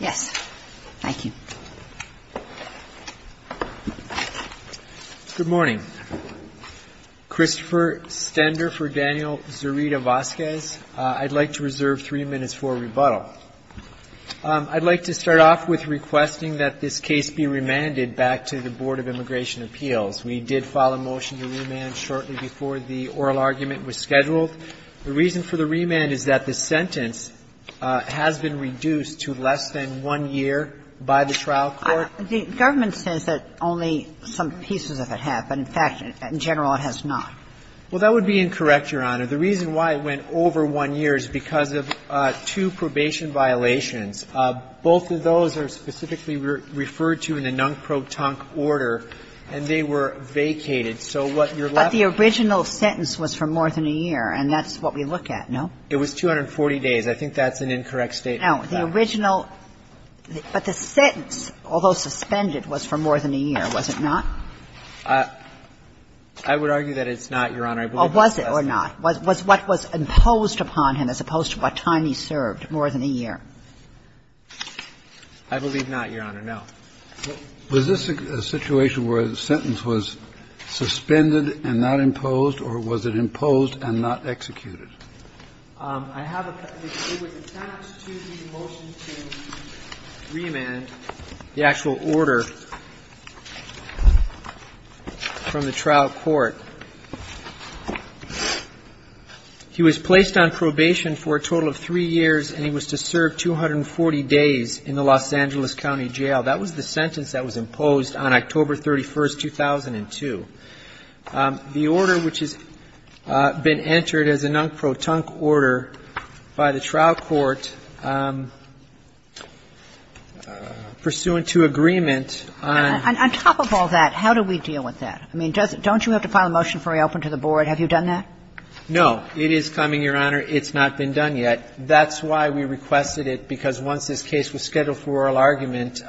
Yes. Thank you. Good morning. Christopher Stender for Daniel Zurita-Vasquez. I'd like to reserve three minutes for rebuttal. I'd like to start off with requesting that this case be remanded back to the Board of Immigration Appeals. We did file a motion to remand shortly before the oral argument was scheduled. The reason for the remand is that the sentence has been reduced to less than one year by the trial court. The government says that only some pieces of it have, but in fact, in general, it has not. Well, that would be incorrect, Your Honor. The reason why it went over one year is because of two probation violations. Both of those are specifically referred to in a non-protunct order, and they were vacated. So what you're left with is that the original sentence was for more than a year, and that's what we look at, no? It was 240 days. I think that's an incorrect statement. No. The original – but the sentence, although suspended, was for more than a year, was it not? I would argue that it's not, Your Honor. Well, was it or not? Was what was imposed upon him as opposed to what time he served more than a year? I believe not, Your Honor, no. Was this a situation where the sentence was suspended and not imposed, or was it imposed and not executed? I have a – it was attached to the motion to remand the actual order from the trial court. He was placed on probation for a total of three years, and he was to serve 240 days in the Los Angeles County Jail. That was the sentence that was imposed on October 31, 2002. The order, which has been entered as a non-protunct order by the trial court pursuant to agreement on – On top of all that, how do we deal with that? I mean, doesn't – don't you have to file a motion for reopening to the board? Have you done that? No. It is coming, Your Honor. It's not been done yet. That's why we requested it, because once this case was scheduled for oral argument,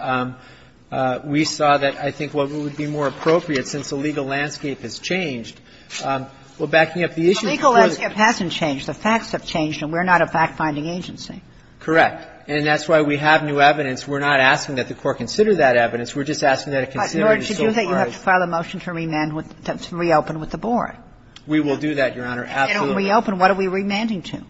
we saw that, I think, what would be more appropriate, since the legal landscape has changed, we're backing up the issue. The legal landscape hasn't changed. The facts have changed, and we're not a fact-finding agency. Correct. And that's why we have new evidence. We're not asking that the Court consider that evidence. We're just asking that it consider it as so far as – But in order to do that, you have to file a motion to remand with – to reopen with the board. We will do that, Your Honor. Absolutely. If they don't reopen, what are we remanding to?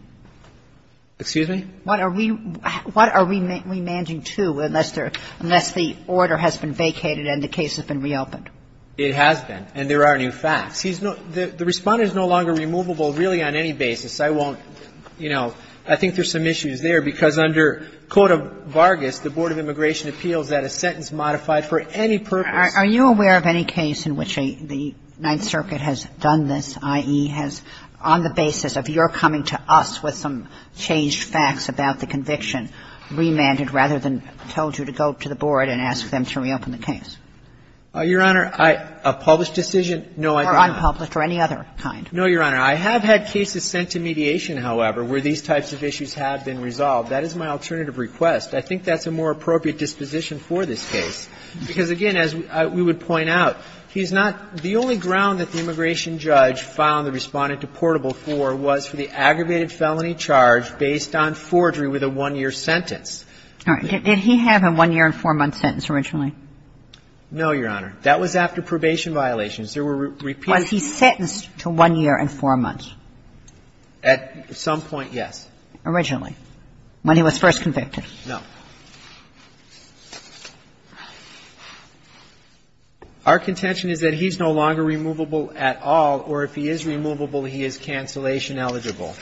Excuse me? What are we – what are we remanding to unless there – unless the order has been vacated and the case has been reopened? It has been, and there are new facts. He's no – the Respondent is no longer removable, really, on any basis. I won't – you know, I think there's some issues there, because under Code of Vargas, the Board of Immigration appeals that a sentence modified for any purpose – Are you aware of any case in which the Ninth Circuit has done this, i.e., has – on the basis of a change in the statute, has the Court, in accordance with some changed facts about the conviction, remanded rather than told you to go to the Board and ask them to reopen the case? Your Honor, I – a published decision? No, I don't. Or unpublished or any other kind. No, Your Honor. I have had cases sent to mediation, however, where these types of issues have been resolved. That is my alternative request. I think that's a more appropriate disposition for this case, because, again, as we would point out, he's not – the only ground that the immigration judge found the Respondent deportable for was for the aggravated felony charge based on forgery with a one-year sentence. All right. Did he have a one-year and four-month sentence originally? No, Your Honor. That was after probation violations. There were repeated – Was he sentenced to one year and four months? At some point, yes. Originally, when he was first convicted? No. Our contention is that he's no longer removable at all, or if he is removable, he is cancellation eligible.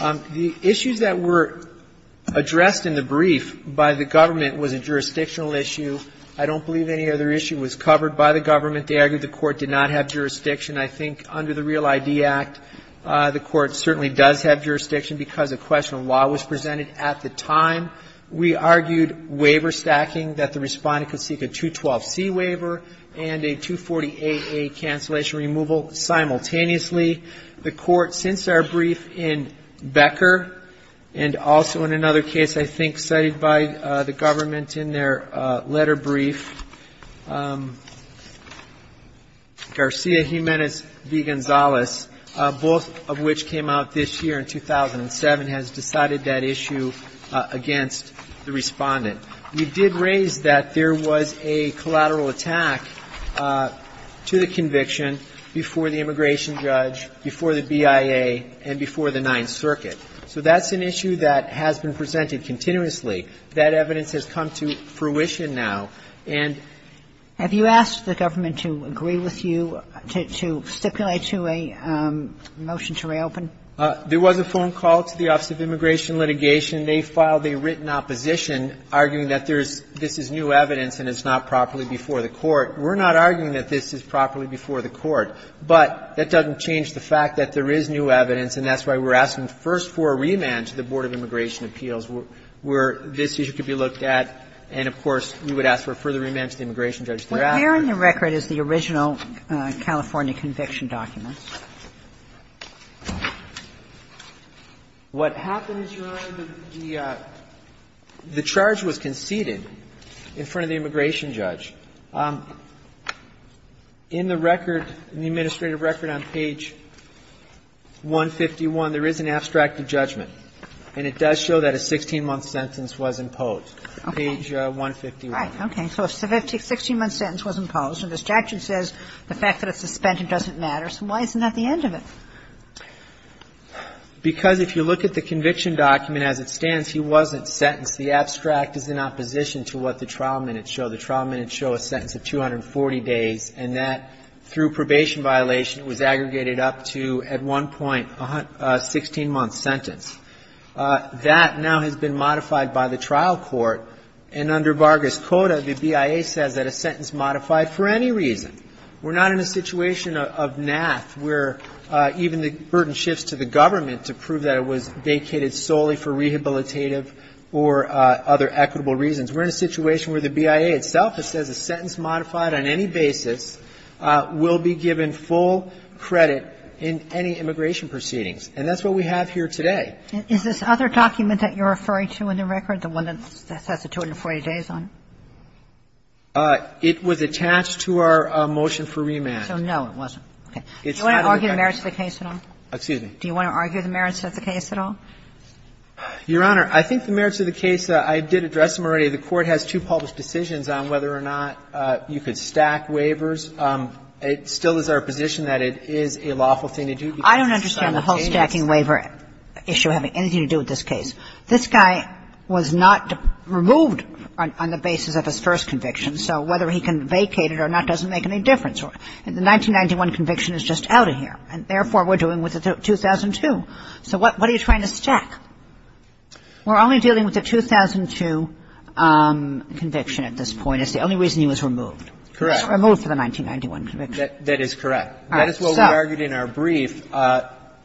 The issues that were addressed in the brief by the government was a jurisdictional issue. I don't believe any other issue was covered by the government. They argued the Court did not have jurisdiction. I think under the Real ID Act, the Court certainly does have jurisdiction because a question of law was presented at the time. We argued waiver stacking, that the Respondent could seek a 212C waiver and a 240AA cancellation removal simultaneously. The Court, since our brief in Becker, and also in another case I think cited by the government in their letter brief, Garcia Jimenez v. Gonzalez, both of which came out this year in 2007, has decided that issue against the Respondent. We did raise that there was a collateral attack to the conviction before the immigration judge, before the BIA, and before the Ninth Circuit. So that's an issue that has been presented continuously. That evidence has come to fruition now. And we're not arguing that this is properly before the Court, but that doesn't change the fact that there is new evidence, and that's why we're asking first for a remand to the Board of Immigration Appeals, where this issue could be looked at, and, of course, we would ask for a remand to the Board of Immigration Appeals, and we would ask for a further remand to the immigration judge thereafter. Kagan. Well, there in the record is the original California conviction document. What happens, Your Honor, the charge was conceded in front of the immigration judge. In the record, in the administrative record on page 151, there is an abstract judgment, and it does show that a 16-month sentence was imposed. Okay. Page 151. Right. Okay. So if a 16-month sentence was imposed and the statute says the fact that it's suspended doesn't matter, so why isn't that the end of it? Because if you look at the conviction document as it stands, he wasn't sentenced. The abstract is in opposition to what the trial minutes show. The trial minutes show a sentence of 240 days, and that through probation violation was aggregated up to, at one point, a 16-month sentence. That now has been modified by the trial court, and under Vargas Coda, the BIA says that a sentence modified for any reason. We're not in a situation of naff where even the burden shifts to the government to prove that it was vacated solely for rehabilitative or other equitable reasons. We're in a situation where the BIA itself, it says a sentence modified on any basis will be given full credit in any immigration proceedings. And that's what we have here today. Is this other document that you're referring to in the record, the one that says the 240 days on it? It was attached to our motion for remand. So no, it wasn't. Okay. Do you want to argue the merits of the case at all? Excuse me? Do you want to argue the merits of the case at all? Your Honor, I think the merits of the case, I did address them already. The court has two published decisions on whether or not you could stack waivers. It still is our position that it is a lawful thing to do. I don't understand the whole stacking waiver issue having anything to do with this case. This guy was not removed on the basis of his first conviction. So whether he can vacate it or not doesn't make any difference. The 1991 conviction is just out of here. And therefore, we're dealing with a 2002. So what are you trying to stack? We're only dealing with the 2002 conviction at this point. It's the only reason he was removed. Correct. He was removed from the 1991 conviction. That is correct. That is what we argued in our brief.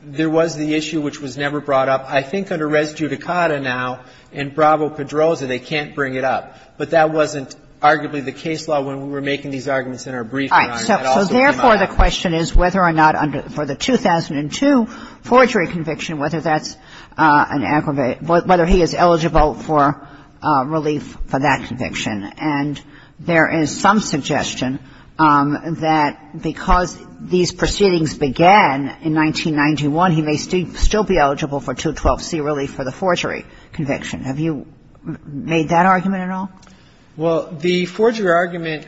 There was the issue which was never brought up. I think under res judicata now in Bravo-Pedroza, they can't bring it up. But that wasn't arguably the case law when we were making these arguments in our briefing. All right. So therefore, the question is whether or not for the 2002 forgery conviction, whether that's an aggravated ‑‑ whether he is eligible for relief for that conviction. And there is some suggestion that because these proceedings began in 1991, he may still be eligible for 212C relief for the forgery conviction. Have you made that argument at all? Well, the forgery argument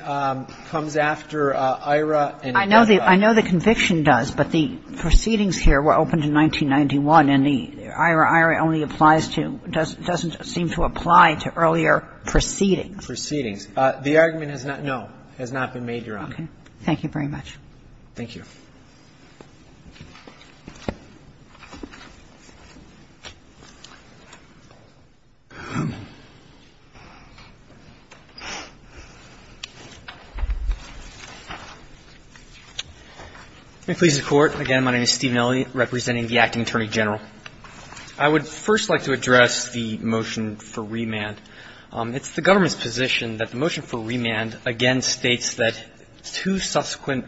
comes after AIRA and ‑‑ I know the conviction does, but the proceedings here were opened in 1991, and AIRA only applies to ‑‑ doesn't seem to apply to earlier proceedings. Proceedings. The argument has not ‑‑ no, has not been made, Your Honor. Okay. Thank you very much. Thank you. Let me please the Court. Again, my name is Steve Nelli, representing the Acting Attorney General. I would first like to address the motion for remand. It's the government's position that the motion for remand, again, states that two subsequent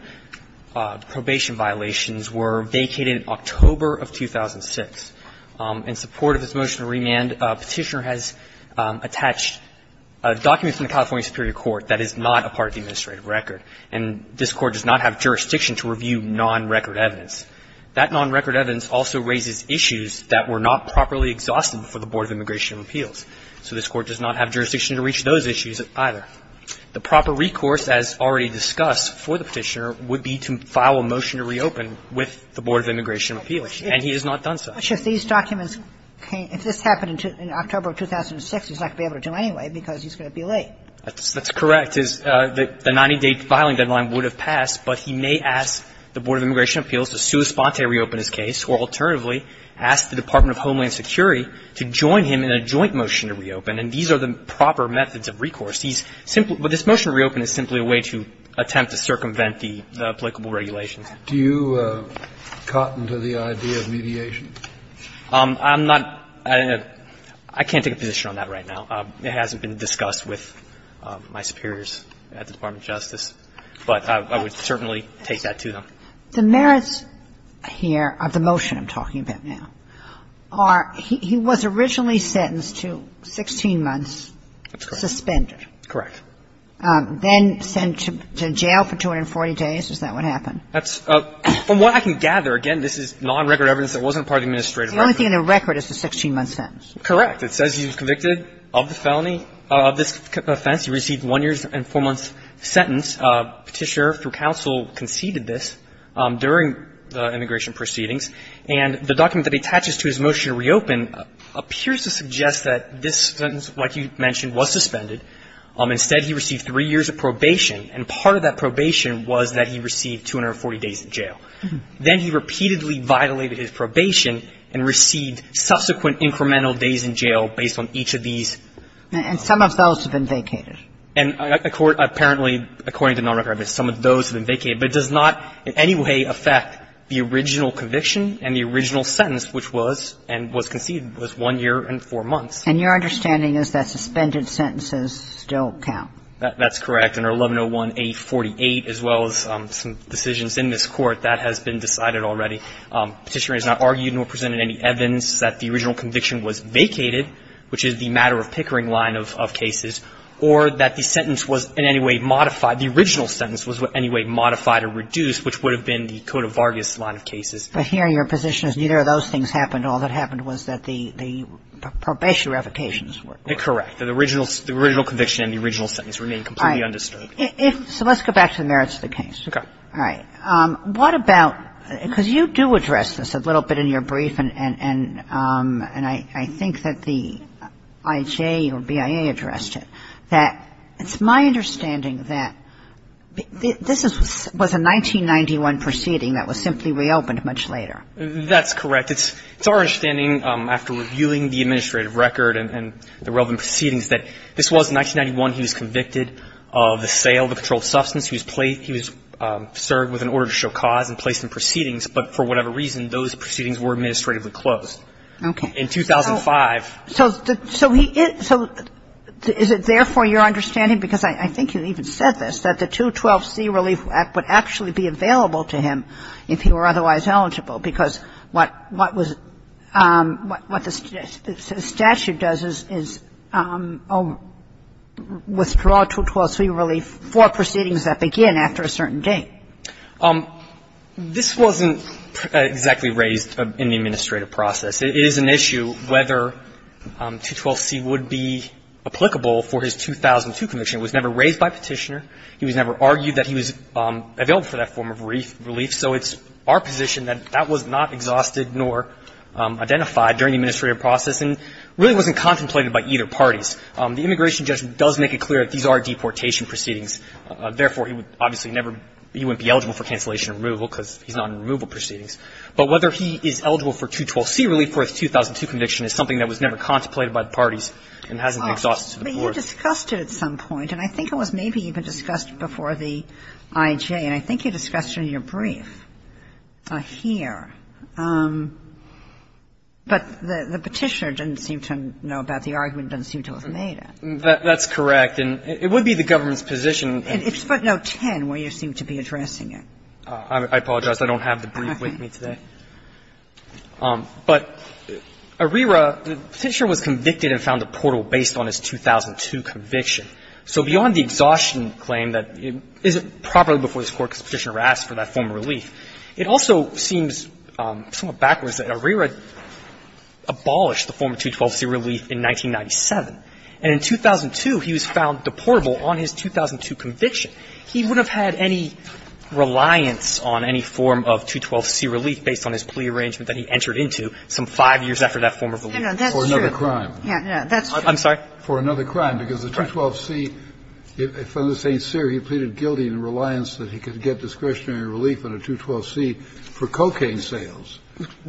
probation violations were vacated in October of 2006. In support of this motion to remand, Petitioner has attached a document from the California Superior Court that is not a part of the administrative record, and this Court does not have jurisdiction to review nonrecord evidence. That nonrecord evidence also raises issues that were not properly exhausted before the Board of Immigration and Appeals, so this Court does not have jurisdiction to reach those issues either. The proper recourse, as already discussed for the Petitioner, would be to file a motion to reopen with the Board of Immigration and Appeals, and he has not done so. But if these documents came ‑‑ if this happened in October of 2006, he's not going to be able to do it anyway because he's going to be late. That's correct. The 90-day filing deadline would have passed, but he may ask the Board of Immigration and Appeals to sua sponte reopen his case, or alternatively, ask the Department of Homeland Security to join him in a joint motion to reopen. And these are the proper methods of recourse. He's simply ‑‑ but this motion to reopen is simply a way to attempt to circumvent the applicable regulations. Do you cotton to the idea of mediation? I'm not ‑‑ I can't take a position on that right now. It hasn't been discussed with my superiors at the Department of Justice, but I would certainly take that to them. The merits here of the motion I'm talking about now are he was originally sentenced to 16 months suspended. That's correct. Correct. Then sent to jail for 240 days. Is that what happened? That's ‑‑ from what I can gather, again, this is nonrecord evidence that wasn't part of the administrative record. The only thing in the record is the 16-month sentence. Correct. It says he was convicted of the felony, of this offense. He received one year's and four months' sentence. Petitioner, through counsel, conceded this during the immigration proceedings. And the document that he attaches to his motion to reopen appears to suggest that this sentence, like you mentioned, was suspended. Instead, he received three years of probation, and part of that probation was that he received 240 days in jail. Then he repeatedly violated his probation and received subsequent incremental days in jail based on each of these. And some of those have been vacated. And apparently, according to nonrecord evidence, some of those have been vacated. But it does not in any way affect the original conviction and the original sentence, which was, and was conceded, was one year and four months. And your understanding is that suspended sentences still count. That's correct. Under 1101A48, as well as some decisions in this Court, that has been decided already. Petitioner has not argued nor presented any evidence that the original conviction was vacated, which is the matter-of-pickering line of cases, or that the sentence was in any way modified. The original sentence was in any way modified or reduced, which would have been the Cote of Vargas line of cases. But here your position is neither of those things happened. All that happened was that the probation revocations were. The original conviction and the original sentence remained completely undisturbed. All right. So let's go back to the merits of the case. Okay. All right. What about, because you do address this a little bit in your brief, and I think that the IJ or BIA addressed it, that it's my understanding that this was a 1991 proceeding that was simply reopened much later. That's correct. It's our understanding, after reviewing the administrative record and the relevant proceedings, that this was 1991. He was convicted of the sale of a controlled substance. He was served with an order to show cause and placed in proceedings. But for whatever reason, those proceedings were administratively closed. Okay. In 2005. So is it therefore your understanding, because I think you even said this, that the 212c Relief Act would actually be available to him if he were otherwise eligible, because what the statute does is withdraw 212c Relief for proceedings that begin after a certain date. This wasn't exactly raised in the administrative process. It is an issue whether 212c would be applicable for his 2002 conviction. It was never raised by Petitioner. He was never argued that he was available for that form of relief. So it's our position that that was not exhausted nor identified during the administrative process and really wasn't contemplated by either parties. The Immigration Judgment does make it clear that these are deportation proceedings. Therefore, he would obviously never be eligible for cancellation and removal because he's not in removal proceedings. But whether he is eligible for 212c Relief for his 2002 conviction is something that was never contemplated by the parties and hasn't been exhausted to the core. But you discussed it at some point. And I think it was maybe even discussed before the IJ. And I think you discussed it in your brief here. But the Petitioner didn't seem to know about it. The argument didn't seem to have made it. That's correct. And it would be the government's position. It's footnote 10 where you seem to be addressing it. I apologize. I don't have the brief with me today. But Arrera, the Petitioner was convicted and found deportable based on his 2002 conviction. So beyond the exhaustion claim that it isn't properly before this Court because the Petitioner asked for that form of relief, it also seems somewhat backwards that Arrera abolished the form of 212c Relief in 1997. And in 2002, he was found deportable on his 2002 conviction. He would have had any reliance on any form of 212c Relief based on his plea arrangement that he entered into some 5 years after that form of relief. For another crime. That's true. I'm sorry? For another crime. Because the 212c, if under St. Cyr he pleaded guilty in reliance that he could get discretionary relief on a 212c for cocaine sales,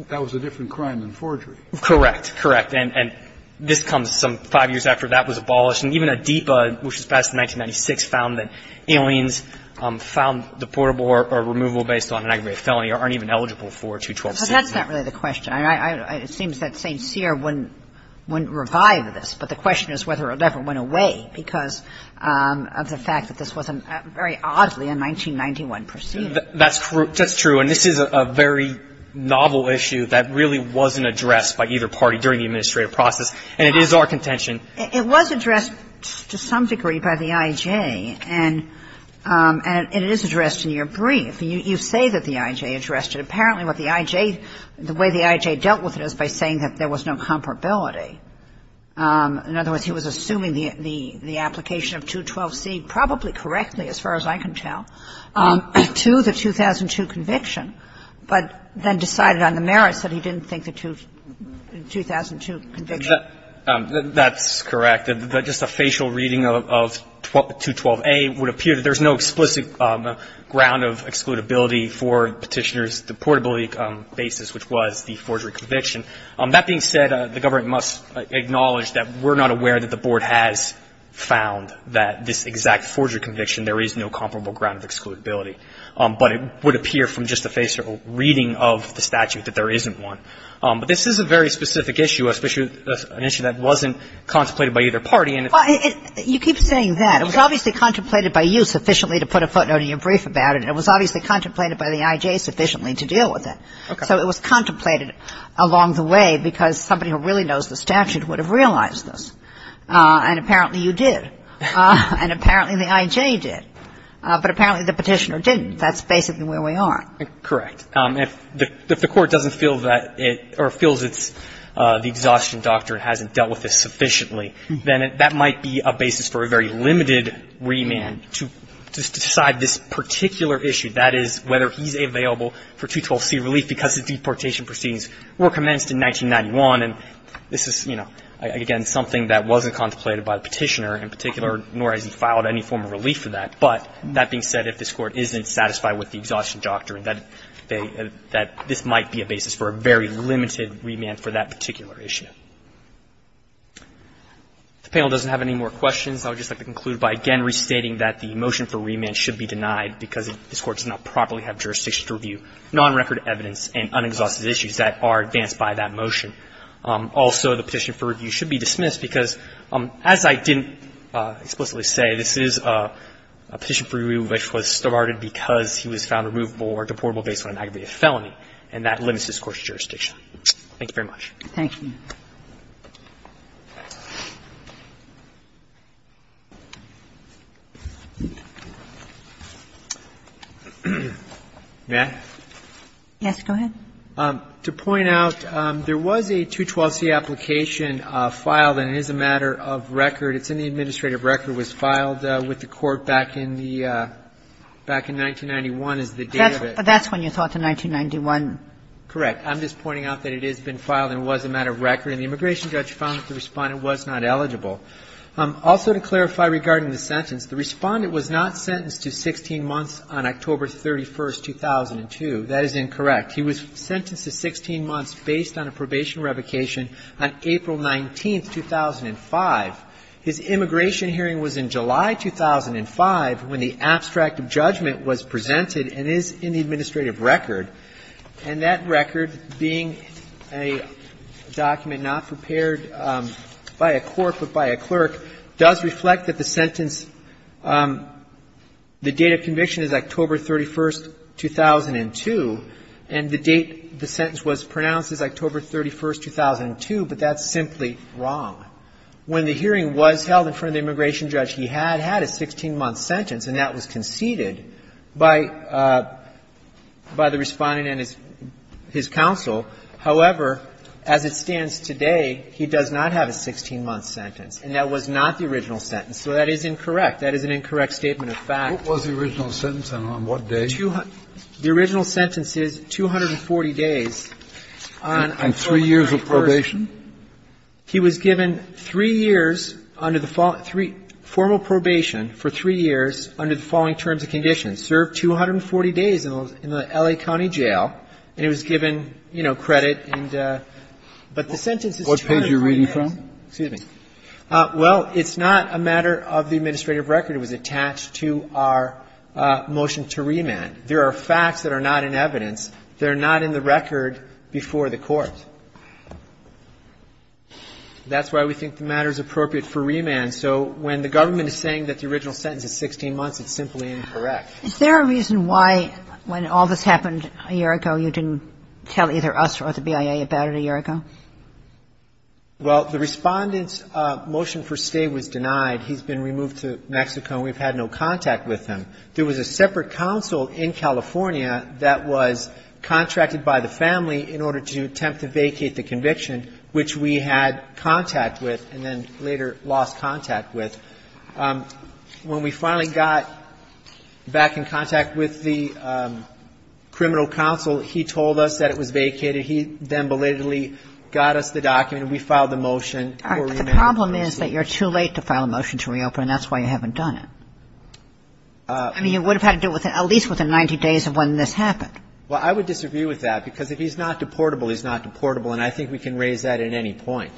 that was a different crime than forgery. Correct, correct. And this comes some 5 years after that was abolished. And even Adipa, which was passed in 1996, found that aliens found deportable or removable based on an aggravated felony or aren't even eligible for a 212c. But that's not really the question. It seems that St. Cyr wouldn't revive this. But the question is whether it ever went away because of the fact that this wasn't very oddly a 1991 proceeding. That's true. That's true. And this is a very novel issue that really wasn't addressed by either party during the administrative process. And it is our contention. It was addressed to some degree by the I.J. And it is addressed in your brief. You say that the I.J. addressed it. Apparently what the I.J. The way the I.J. dealt with it is by saying that there was no comparability. In other words, he was assuming the application of 212c probably correctly, as far as I can tell, to the 2002 conviction, but then decided on the merits that he didn't think the 2002 conviction. That's correct. Just a facial reading of 212a would appear that there's no explicit ground of excludability for Petitioner's deportability basis, which was the forgery conviction. That being said, the government must acknowledge that we're not aware that the Board has found that this exact forgery conviction, there is no comparable ground of excludability. But it would appear from just a facial reading of the statute that there isn't But this is a very specific issue, especially an issue that wasn't contemplated by either party. Well, you keep saying that. It was obviously contemplated by you sufficiently to put a footnote in your brief about it, and it was obviously contemplated by the I.J. sufficiently to deal with it. Okay. So it was contemplated along the way because somebody who really knows the statute would have realized this. And apparently you did. And apparently the I.J. did. But apparently the Petitioner didn't. That's basically where we are. Correct. If the Court doesn't feel that it or feels it's the exhaustion doctrine hasn't dealt with this sufficiently, then that might be a basis for a very limited remand to decide this particular issue, that is, whether he's available for 212c relief, because the deportation proceedings were commenced in 1991. And this is, you know, again, something that wasn't contemplated by the Petitioner in particular, nor has he filed any form of relief for that. But that being said, if this Court isn't satisfied with the exhaustion doctrine, that this might be a basis for a very limited remand for that particular issue. If the panel doesn't have any more questions, I would just like to conclude by again restating that the motion for remand should be denied because this Court does not properly have jurisdiction to review nonrecord evidence and unexhausted issues that are advanced by that motion. Also, the petition for review should be dismissed because, as I didn't explicitly say, this is a petition for review which was started because he was found removable or deportable based on an aggravated felony, and that limits this Court's jurisdiction. Thank you very much. Ginsburg. Thank you. May I? Yes, go ahead. To point out, there was a 212c application filed, and it is a matter of record. It's in the administrative record. It was filed with the Court back in the 1991 is the date of it. But that's when you thought, the 1991? Correct. I'm just pointing out that it has been filed and was a matter of record. And the immigration judge found that the Respondent was not eligible. Also, to clarify regarding the sentence, the Respondent was not sentenced to 16 months on October 31, 2002. That is incorrect. He was sentenced to 16 months based on a probation revocation on April 19, 2005. His immigration hearing was in July 2005 when the abstract of judgment was presented and is in the administrative record. And that record, being a document not prepared by a court but by a clerk, does reflect that the sentence, the date of conviction is October 31, 2002, and the date the sentence was pronounced is October 31, 2002. But that's simply wrong. When the hearing was held in front of the immigration judge, he had had a 16-month sentence, and that was conceded by the Respondent and his counsel. However, as it stands today, he does not have a 16-month sentence. And that was not the original sentence. So that is incorrect. That is an incorrect statement of fact. What was the original sentence and on what day? The original sentence is 240 days on October 31. And three years of probation? He was given three years under the form of probation for three years under the following terms and conditions. Served 240 days in the L.A. County Jail, and he was given, you know, credit. But the sentence is 240 days. What page are you reading from? Excuse me. Well, it's not a matter of the administrative record. It was attached to our motion to remand. There are facts that are not in evidence. They're not in the record before the Court. That's why we think the matter is appropriate for remand. So when the government is saying that the original sentence is 16 months, it's simply incorrect. Is there a reason why, when all this happened a year ago, you didn't tell either us or the BIA about it a year ago? Well, the Respondent's motion for stay was denied. He's been removed to Mexico, and we've had no contact with him. There was a separate counsel in California that was contracted by the family in order to attempt to vacate the conviction, which we had contact with and then later lost contact with. When we finally got back in contact with the criminal counsel, he told us that it was vacated. He then belatedly got us the document, and we filed the motion for remand. All right. But the problem is that you're too late to file a motion to reopen, and that's why you haven't done it. I mean, you would have had to do it at least within 90 days of when this happened. Well, I would disagree with that, because if he's not deportable, he's not deportable, and I think we can raise that at any point.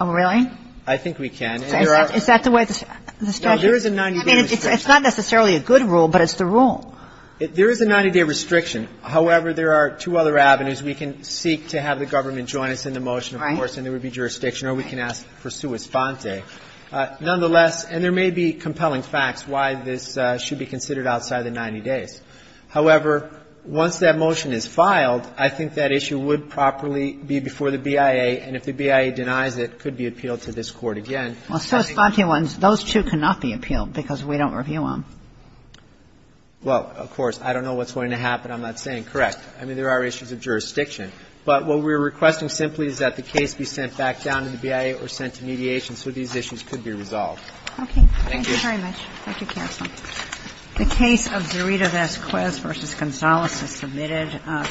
Oh, really? I think we can. Is that the way the statute is? No, there is a 90-day restriction. I mean, it's not necessarily a good rule, but it's the rule. There is a 90-day restriction. However, there are two other avenues. We can seek to have the government join us in the motion, of course, and there would be jurisdiction, or we can ask for sua sponte. Nonetheless, and there may be compelling facts why this should be considered outside the 90 days. However, once that motion is filed, I think that issue would properly be before the BIA, and if the BIA denies it, it could be appealed to this Court again. Well, sua sponte ones, those two cannot be appealed because we don't review them. Well, of course. I don't know what's going to happen. I'm not saying. Correct. I mean, there are issues of jurisdiction. But what we're requesting simply is that the case be sent back down to the BIA or sent to mediation so these issues could be resolved. Okay. Thank you very much. Thank you, counsel. The case of Zerita Vasquez v. Gonzales is submitted.